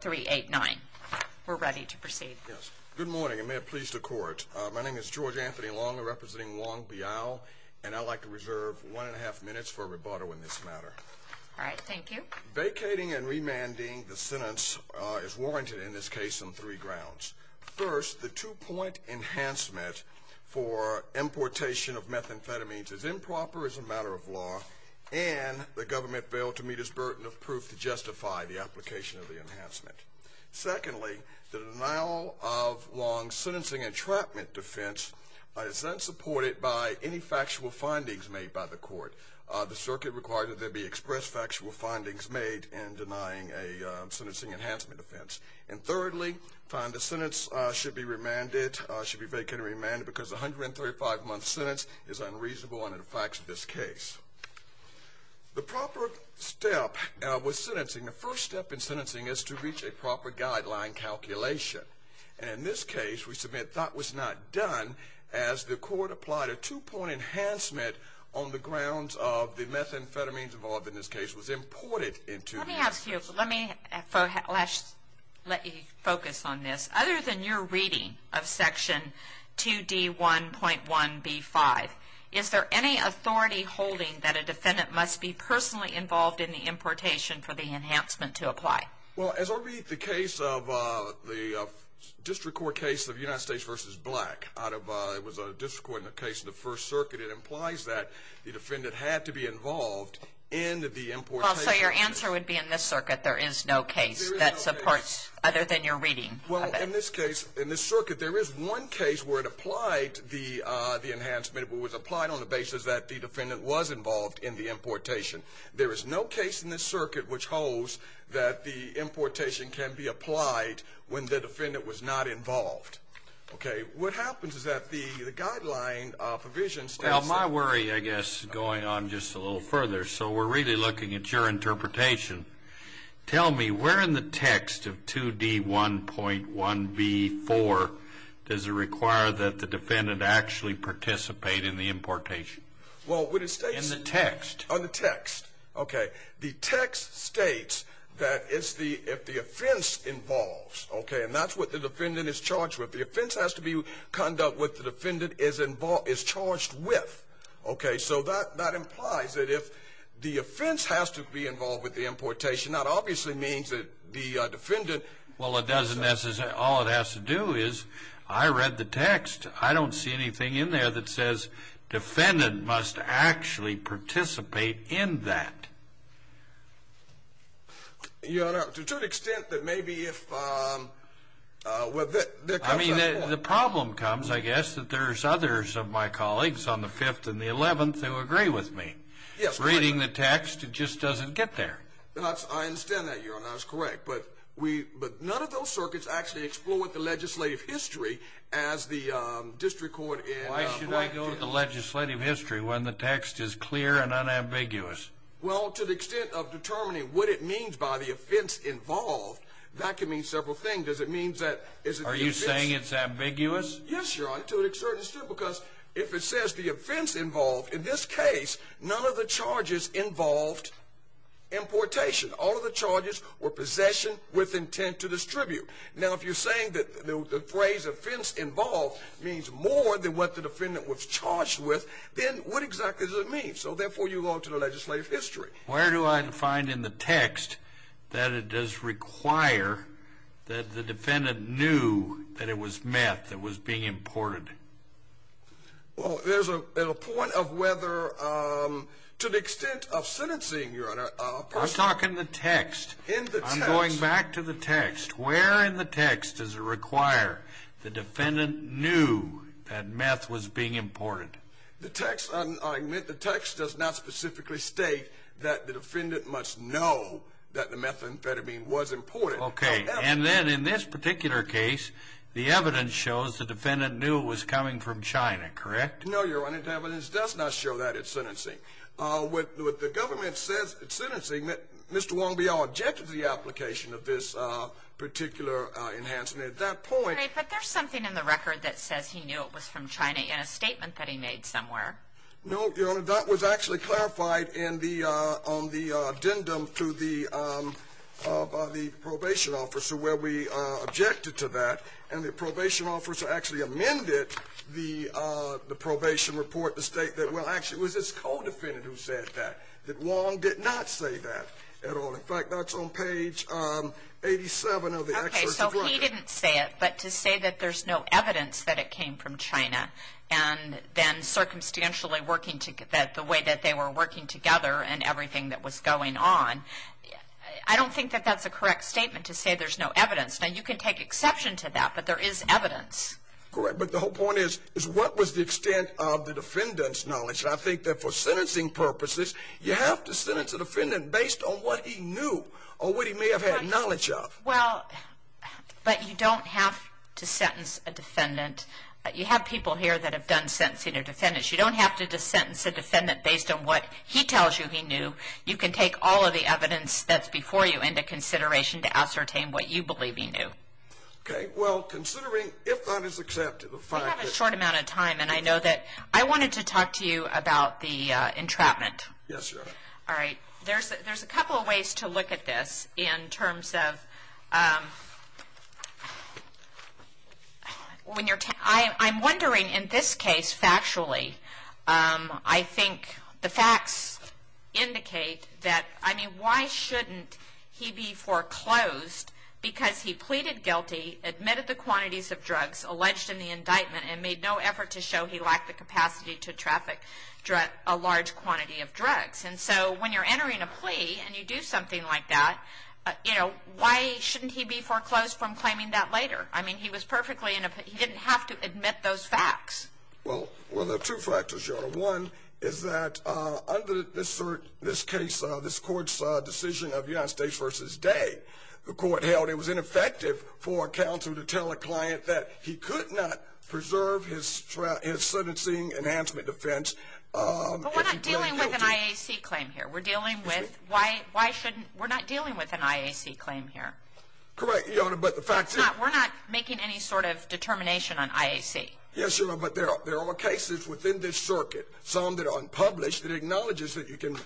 389. We're ready to proceed. Yes. Good morning and may it please the court. My name is George Anthony Long representing Wong Biao and I'd like to reserve one and a half minutes for rebuttal in this matter. All right, thank you. Vacating and remanding the sentence is warranted in this case on three grounds. First, the two-point enhancement for importation of methamphetamines is improper as a matter of law and the government failed to meet its burden of proof to justify the application of Secondly, the denial of Wong's sentencing entrapment defense is unsupported by any factual findings made by the court. The circuit requires that there be expressed factual findings made in denying a sentencing enhancement offense. And thirdly, the sentence should be remanded, should be vacant and remanded because 135-month sentence is unreasonable and it affects this case. The proper step was sentencing. The first step in sentencing is to reach a proper guideline calculation. And in this case, we submit that was not done as the court applied a two-point enhancement on the grounds of the methamphetamines involved in this case was imported into. Let me ask you, let me let you focus on this. Other than your reading of section 2d 1.1b 5, is there any authority holding that a defendant must be personally involved in the importation for the enhancement to apply? Well, as I read the case of the district court case of United States versus Black out of, it was a district court in the case of the first circuit, it implies that the defendant had to be involved in the import. So your answer would be in this circuit, there is no case that supports other than your reading. Well, in this case, in this circuit, there is one case where it the defendant was involved in the importation. There is no case in this circuit which holds that the importation can be applied when the defendant was not involved. Okay, what happens is that the the guideline provision... Well, my worry, I guess, going on just a little further, so we're really looking at your interpretation. Tell me, where in the text of 2d 1.1b 4 does it require that the defendant actually participate in the importation? In the text? In the text. Okay, the text states that if the offense involves, okay, and that's what the defendant is charged with, the offense has to be conduct what the defendant is charged with. Okay, so that implies that if the offense has to be involved with the importation, that obviously means that the text, I don't see anything in there that says defendant must actually participate in that. Your Honor, to an extent that maybe if, well, I mean, the problem comes, I guess, that there's others of my colleagues on the 5th and the 11th who agree with me. Yes, reading the text, it just doesn't get there. I understand that, Your Honor, that's correct, but we, but none of those circuits actually explore what the legislative history as the district court in... Why should I go with the legislative history when the text is clear and unambiguous? Well, to the extent of determining what it means by the offense involved, that can mean several things. Does it mean that... Are you saying it's ambiguous? Yes, Your Honor, to a certain extent, because if it says the offense involved, in this case, none of the charges involved importation. All of the charges were possession with intent to distribute. Now, if you're saying that the phrase offense involved means more than what the defendant was charged with, then what exactly does it mean? So, therefore, you go to the legislative history. Where do I find in the text that it does require that the defendant knew that it was meth that was being imported? Well, there's a point of whether, to the extent of the text, where in the text does it require the defendant knew that meth was being imported? The text, I admit, the text does not specifically state that the defendant must know that the methamphetamine was imported. Okay, and then, in this particular case, the evidence shows the defendant knew it was coming from China, correct? No, Your Honor, the evidence does not show that at sentencing. What the government says at sentencing, that Mr. Wong-Biao objected to application of this particular enhancement. At that point... But there's something in the record that says he knew it was from China in a statement that he made somewhere. No, Your Honor, that was actually clarified on the addendum to the probation officer where we objected to that, and the probation officer actually amended the probation report to state that, well, actually, it was this co-defendant who said that, that Wong did not say that at all. In page 87 of the excerpt... Okay, so he didn't say it, but to say that there's no evidence that it came from China, and then circumstantially working together, the way that they were working together and everything that was going on, I don't think that that's a correct statement to say there's no evidence. Now, you can take exception to that, but there is evidence. Correct, but the whole point is what was the extent of the defendant's knowledge? I think that for sentencing purposes, you have to sentence a defendant based on what he knew or what he may have had knowledge of. Well, but you don't have to sentence a defendant. You have people here that have done sentencing of defendants. You don't have to sentence a defendant based on what he tells you he knew. You can take all of the evidence that's before you into consideration to ascertain what you believe he knew. Okay, well, considering if that is accepted... We have a short amount of time, and I know that I wanted to talk to you about the entrapment. Yes, Your Honor. All right. There's a couple of ways to look at this in terms of... I'm wondering, in this case, factually, I think the facts indicate that... I mean, why shouldn't he be foreclosed because he pleaded guilty, admitted the he lacked the capacity to traffic a large quantity of drugs. And so when you're entering a plea and you do something like that, why shouldn't he be foreclosed from claiming that later? I mean, he was perfectly... He didn't have to admit those facts. Well, there are two factors, Your Honor. One is that under this case, this Court's decision of United States v. Day, the Court held it was sentencing enhancement defense... But we're not dealing with an IAC claim here. We're dealing with... Why shouldn't... We're not dealing with an IAC claim here. Correct, Your Honor, but the fact... We're not making any sort of determination on IAC. Yes, Your Honor, but there are cases within this circuit, some that are unpublished, that acknowledges that you can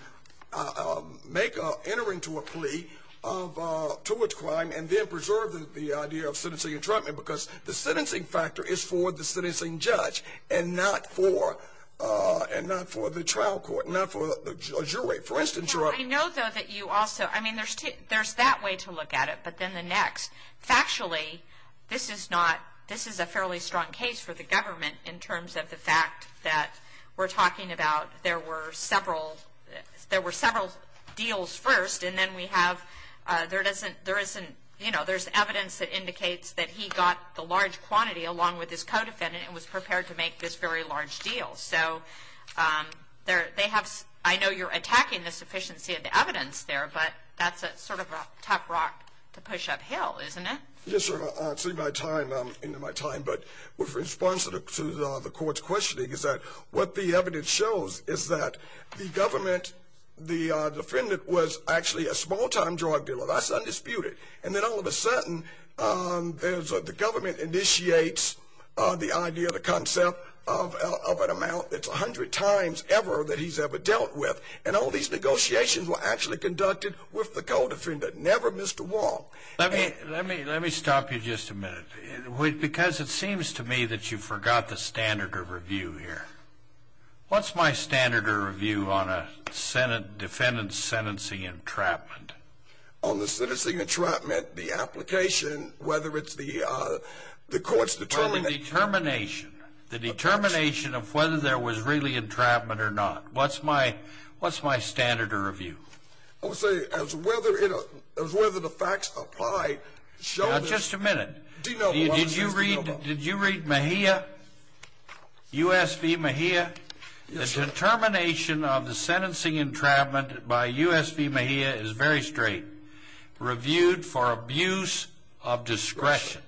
enter into a plea to a crime and then preserve the idea of sentencing entrapment because the sentencing factor is for the sentencing judge and not for the trial court, not for the jury. For instance, Your Honor... I know, though, that you also... I mean, there's that way to look at it, but then the next. Factually, this is not... This is a fairly strong case for the government in terms of the fact that we're talking about there were several deals first, and then we have... There isn't... You know, there's evidence that indicates that he got the large quantity along with his co-defendant and was prepared to make this very large deal. So, they have... I know you're attacking the sufficiency of the evidence there, but that's a sort of a tough rock to push uphill, isn't it? Yes, Your Honor. It's in my time, but with response to the court's questioning is that what the evidence shows is that the government, the defendant, was actually a small-time drug dealer. That's undisputed. And then, all of a sudden, the government initiates the idea, the concept of an amount that's a hundred times ever that he's ever dealt with, and all these negotiations were actually conducted with the co-defendant, never Mr. Wong. Let me stop you just a minute because it seems to me that you forgot the standard of review here. What's my standard of review on a defendant's sentencing entrapment? On the sentencing entrapment, the application, whether it's the court's determination... On the determination, the determination of whether there was really entrapment or not. What's my standard of review? I would say as whether the facts apply, show... Now, just a minute. Did you read Mejia? U.S. v. Mejia? Yes, sir. The determination of the sentencing entrapment by U.S. v. Mejia is very straight. Reviewed for abuse of discretion.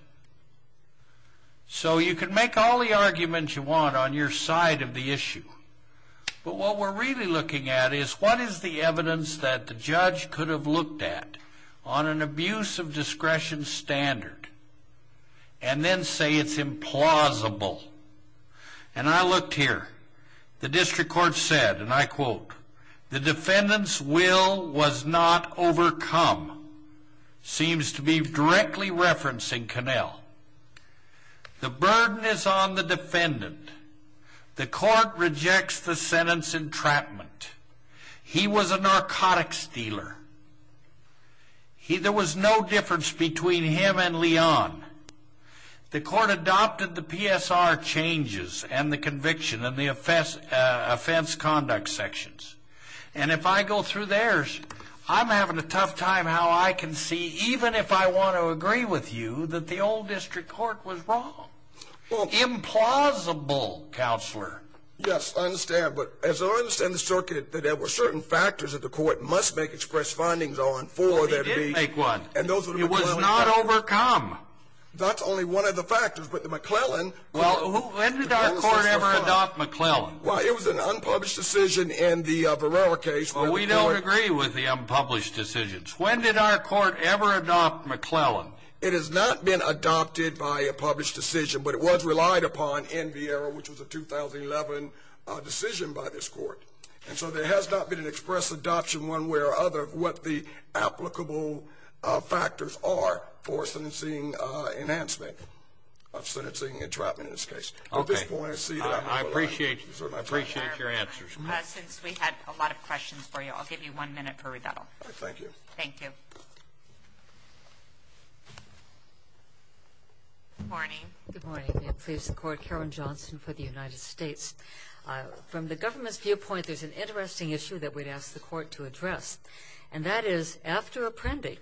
So, you can make all the arguments you want on your side of the issue, but what we're really looking at is what is the evidence that the judge could have looked at on an abuse of discretion standard and then say it's implausible. And I looked here. The district court said, and I quote, the defendant's will was not overcome. Seems to be directly referencing Connell. The burden is on the defendant. The court rejects the sentence entrapment. He was a narcotics dealer. There was no difference between him and Leon. The court adopted the PSR changes and the conviction and the offense conduct sections. And if I go through theirs, I'm having a tough time how I can see, even if I want to agree with you, that the old district court was wrong. Implausible, counselor. Yes, I understand. But as I understand the circuit, that there were certain factors that the court must make express findings on for there to be. Well, they did make one. It was not overcome. That's only one of the factors, but the McClellan. Well, when did our court ever adopt McClellan? Well, it was an unpublished decision in the Varela case. Well, we don't agree with the unpublished decisions. When did our court ever adopt McClellan? It has not been adopted by a published decision, but it was relied upon in Varela, which was a 2011 decision by this court. And so there has not been an express adoption one way or other of what the applicable factors are for sentencing enhancement of sentencing entrapment in this case. At this point, I appreciate your answers. Since we had a lot of questions, I'm going to turn it over to Karen Johnson. Good morning. Good morning. Please support Karen Johnson for the United States. From the government's viewpoint, there's an interesting issue that we'd ask the court to address, and that is, after apprending,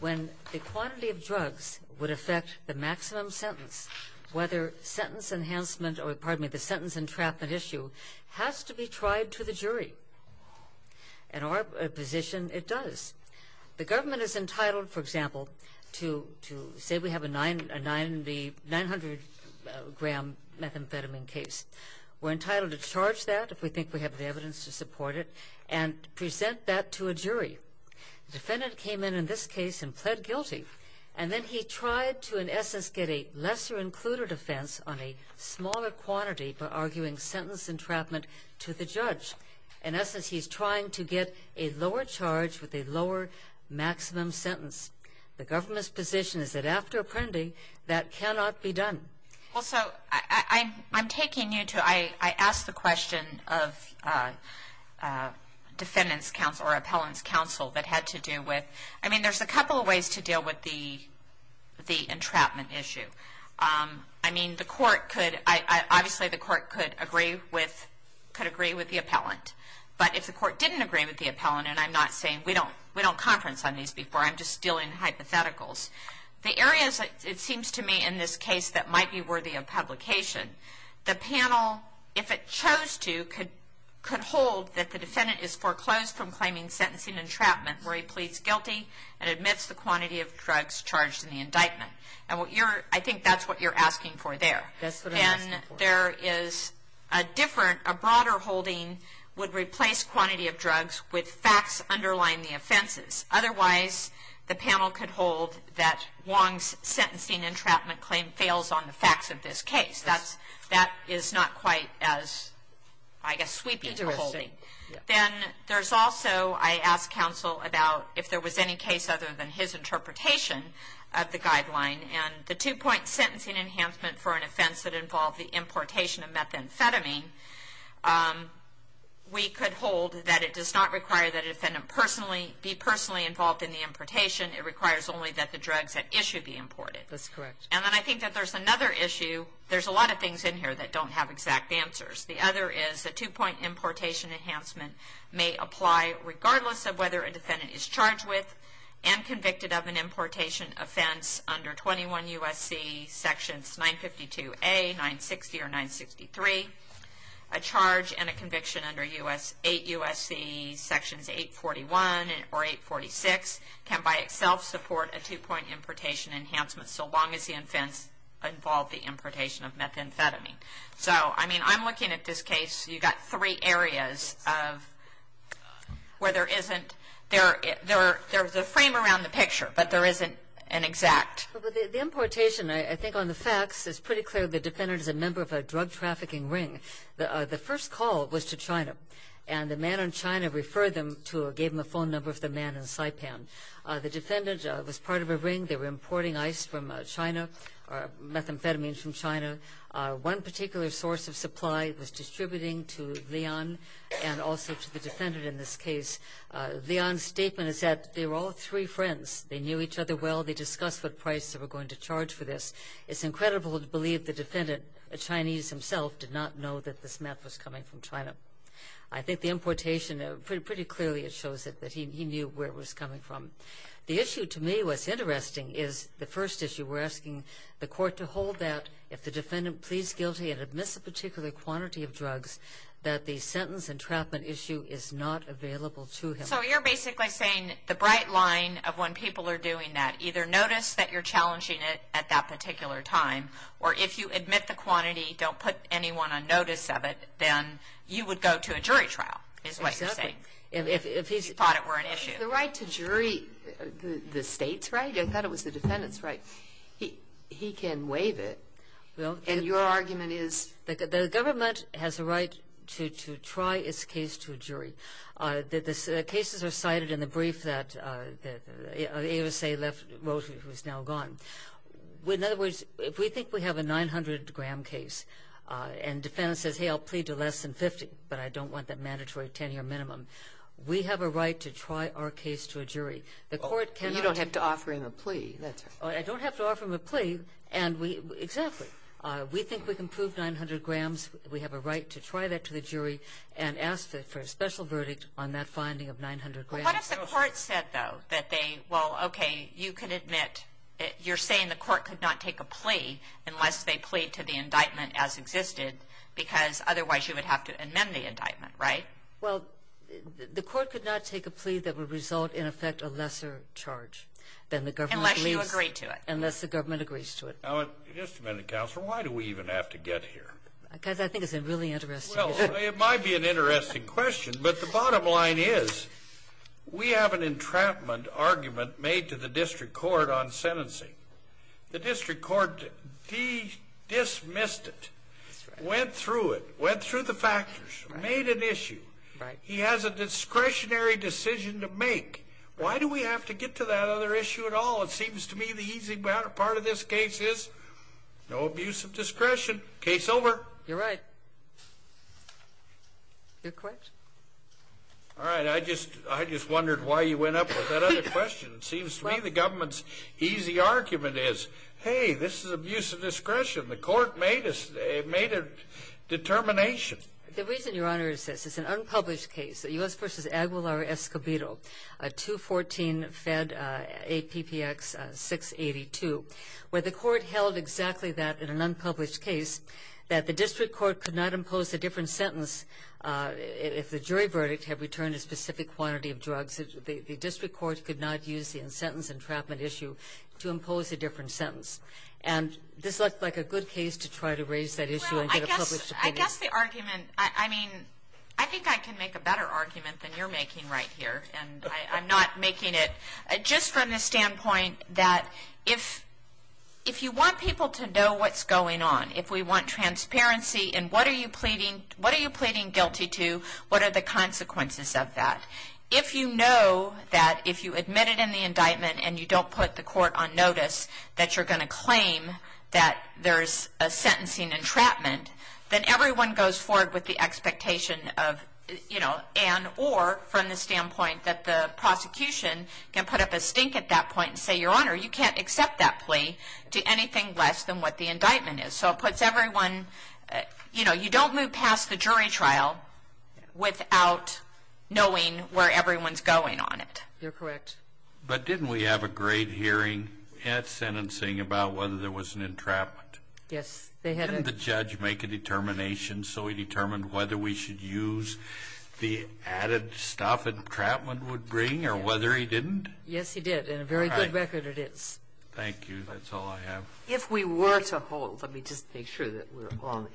when the quantity of drugs would affect the maximum sentence, whether sentence enhancement or, pardon me, the sentence entrapment issue, has to be tried to the jury. In our position, it does. The government is entitled, for example, to say we have a 900-gram methamphetamine case. We're entitled to charge that if we think we have the evidence to support it and present that to a jury. The defendant came in in this case and pled guilty, and then he tried to, in essence, get a lesser-included offense on a sentence entrapment to the judge. In essence, he's trying to get a lower charge with a lower maximum sentence. The government's position is that after apprending, that cannot be done. Well, so I'm taking you to, I asked the question of defendant's counsel or appellant's counsel that had to do with, I mean, there's a couple of ways to deal with the entrapment issue. I mean, the court could agree with the appellant, but if the court didn't agree with the appellant, and I'm not saying, we don't conference on these before, I'm just dealing hypotheticals. The areas, it seems to me, in this case that might be worthy of publication, the panel, if it chose to, could hold that the defendant is foreclosed from claiming sentencing entrapment where he pleads guilty and admits the quantity of drugs charged in the indictment. And what you're, I think that's what you're asking for there. And there is a different, a broader holding would replace quantity of drugs with facts underlying the offenses. Otherwise, the panel could hold that Wong's sentencing entrapment claim fails on the facts of this case. That's, that is not quite as, I guess, sweeping to a holding. Then there's also, I asked counsel about if there was any case other than his interpretation of the guideline, and the two-point sentencing enhancement for an offense that involved the importation of methamphetamine, we could hold that it does not require that a defendant personally, be personally involved in the importation. It requires only that the drugs at issue be imported. That's correct. And then I think that there's another issue, there's a lot of things in here that don't have exact answers. The other is the two-point importation enhancement may apply regardless of whether a defendant is charged with and convicted of an importation offense under 21 U.S.C. sections 952A, 960, or 963. A charge and a conviction under 8 U.S.C. sections 841 or 846 can by itself support a two-point importation enhancement so long as the offense involved the importation of methamphetamine. So, I mean, I'm three areas of, where there isn't, there's a frame around the picture, but there isn't an exact. The importation, I think on the facts, it's pretty clear the defendant is a member of a drug trafficking ring. The first call was to China, and the man in China referred them to, gave them a phone number of the man in Saipan. The defendant was part of a ring, they were importing ice from China, or methamphetamine from China. One particular source of supply was distributing to Leon and also to the defendant in this case. Leon's statement is that they were all three friends, they knew each other well, they discussed what price they were going to charge for this. It's incredible to believe the defendant, a Chinese himself, did not know that this meth was coming from China. I think the importation, pretty clearly it shows that he knew where it was coming from. The issue to me, what's interesting, is the first defendant pleads guilty and admits a particular quantity of drugs that the sentence and entrapment issue is not available to him. So you're basically saying the bright line of when people are doing that, either notice that you're challenging it at that particular time, or if you admit the quantity, don't put anyone on notice of it, then you would go to a jury trial, is what you're saying. If he thought it were an issue. The right to jury, the state's right, I thought it was the And your argument is? The government has a right to try its case to a jury. The cases are cited in the brief that the ASA left, who's now gone. In other words, if we think we have a 900 gram case and defendant says, hey, I'll plead to less than 50, but I don't want that mandatory 10-year minimum, we have a right to try our case to a jury. You don't have to offer him a plea, that's right. I don't have to offer him a plea. Exactly. We think we can prove 900 grams. We have a right to try that to the jury and ask for a special verdict on that finding of 900 grams. What if the court said, though, that they, well, okay, you can admit, you're saying the court could not take a plea unless they plead to the indictment as existed, because otherwise you would have to amend the indictment, right? Well, the court could not take a plea that would result in effect a unless the government agrees to it. Now, just a minute, Counselor, why do we even have to get here? Because I think it's a really interesting issue. Well, it might be an interesting question, but the bottom line is we have an entrapment argument made to the district court on sentencing. The district court dismissed it, went through it, went through the factors, made an issue. Right. He has a discretionary decision to make. Why do we have to get to that other issue at all? It seems to me the easy part of this case is no abuse of discretion. Case over. You're right. You're correct. All right. I just wondered why you went up with that other question. It seems to me the government's easy argument is, hey, this is abuse of discretion. The court made us, made a determination. The reason, Your Honor, is this. It's an unpublished case, the U.S. v. Aguilar-Escobedo, a 214 Fed APPX 682, where the court held exactly that in an unpublished case, that the district court could not impose a different sentence if the jury verdict had returned a specific quantity of drugs. The district court could not use the sentence entrapment issue to impose a different sentence. And this looked like a good case to try to raise that issue and get a published opinion. Well, I guess the argument, I mean, I think I can make a better argument than you're making right here, and I'm not making it. Just from the standpoint that if you want people to know what's going on, if we want transparency in what are you pleading, what are you pleading guilty to, what are the consequences of that? If you know that if you admit it in the indictment and you don't put the court on notice that you're going to claim that there's a sentencing entrapment, then everyone goes forward with the expectation of, you know, and, or from the standpoint that the prosecution can put up a stink at that point and say, Your Honor, you can't accept that plea to anything less than what the indictment is. So it puts everyone, you know, you don't move past the jury trial without knowing where everyone's going on it. You're correct. But didn't we have a great hearing at sentencing about whether there was an entrapment? Yes. Didn't the judge make a determination whether we should use the added stuff entrapment would bring or whether he didn't? Yes, he did. In a very good record, it is. Thank you. That's all I have. If we were to hold, let me just make sure that we're on.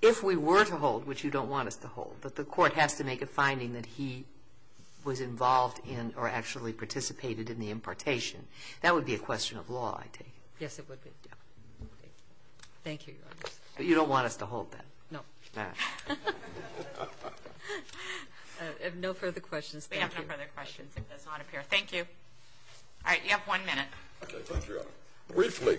If we were to hold, which you don't want us to hold, that the court has to make a finding that he was involved in or actually participated in the impartation, that would be a question of law, I take it. Yes, it would be. Thank you, but you don't want us to hold that. No. No further questions. We have no further questions. It does not appear. Thank you. All right, you have one minute. Okay, thank you, Your Honor. Briefly,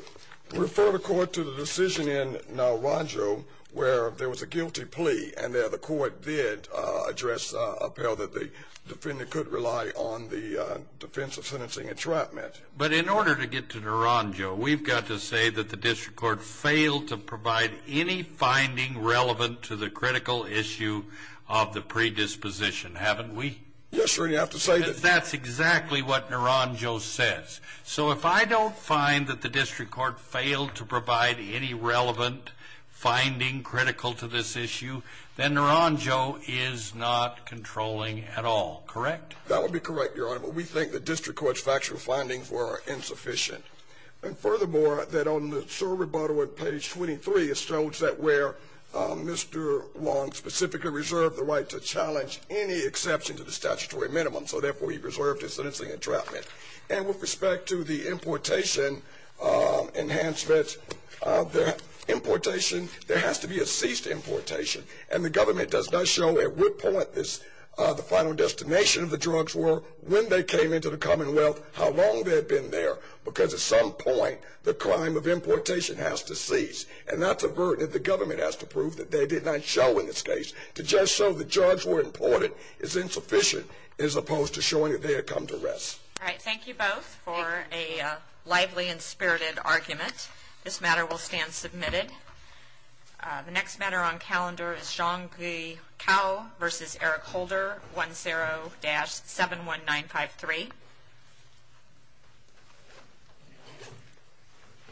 refer the court to the decision in Naranjo where there was a guilty plea and there the court did address appeal that the defendant could rely on the defense of sentencing entrapment. But in order to get to Naranjo, we've got to say that the district court failed to provide any finding relevant to the critical issue of the predisposition, haven't we? Yes, sir, you have to say that. That's exactly what Naranjo says. So if I don't find that the district court failed to provide any relevant finding critical to this issue, then Naranjo is not controlling at all, correct? That would be correct, Your Honor, but we think the district court's factual findings were insufficient. And furthermore, that on the sole rebuttal on page 23, it shows that where Mr. Long specifically reserved the right to challenge any exception to the statutory minimum, so therefore he reserved his sentencing entrapment. And with respect to the importation enhancements, the importation, there has to be a ceased importation. And the government does not show at what point the final destination of the came into the Commonwealth, how long they had been there, because at some point, the crime of importation has to cease. And that's a burden that the government has to prove that they did not show in this case, to just show the drugs were imported is insufficient, as opposed to showing that they had come to rest. All right, thank you both for a lively and spirited argument. This matter will stand submitted. The next matter on calendar is Zhang Guikao v. Eric Holder, 1-0-71953.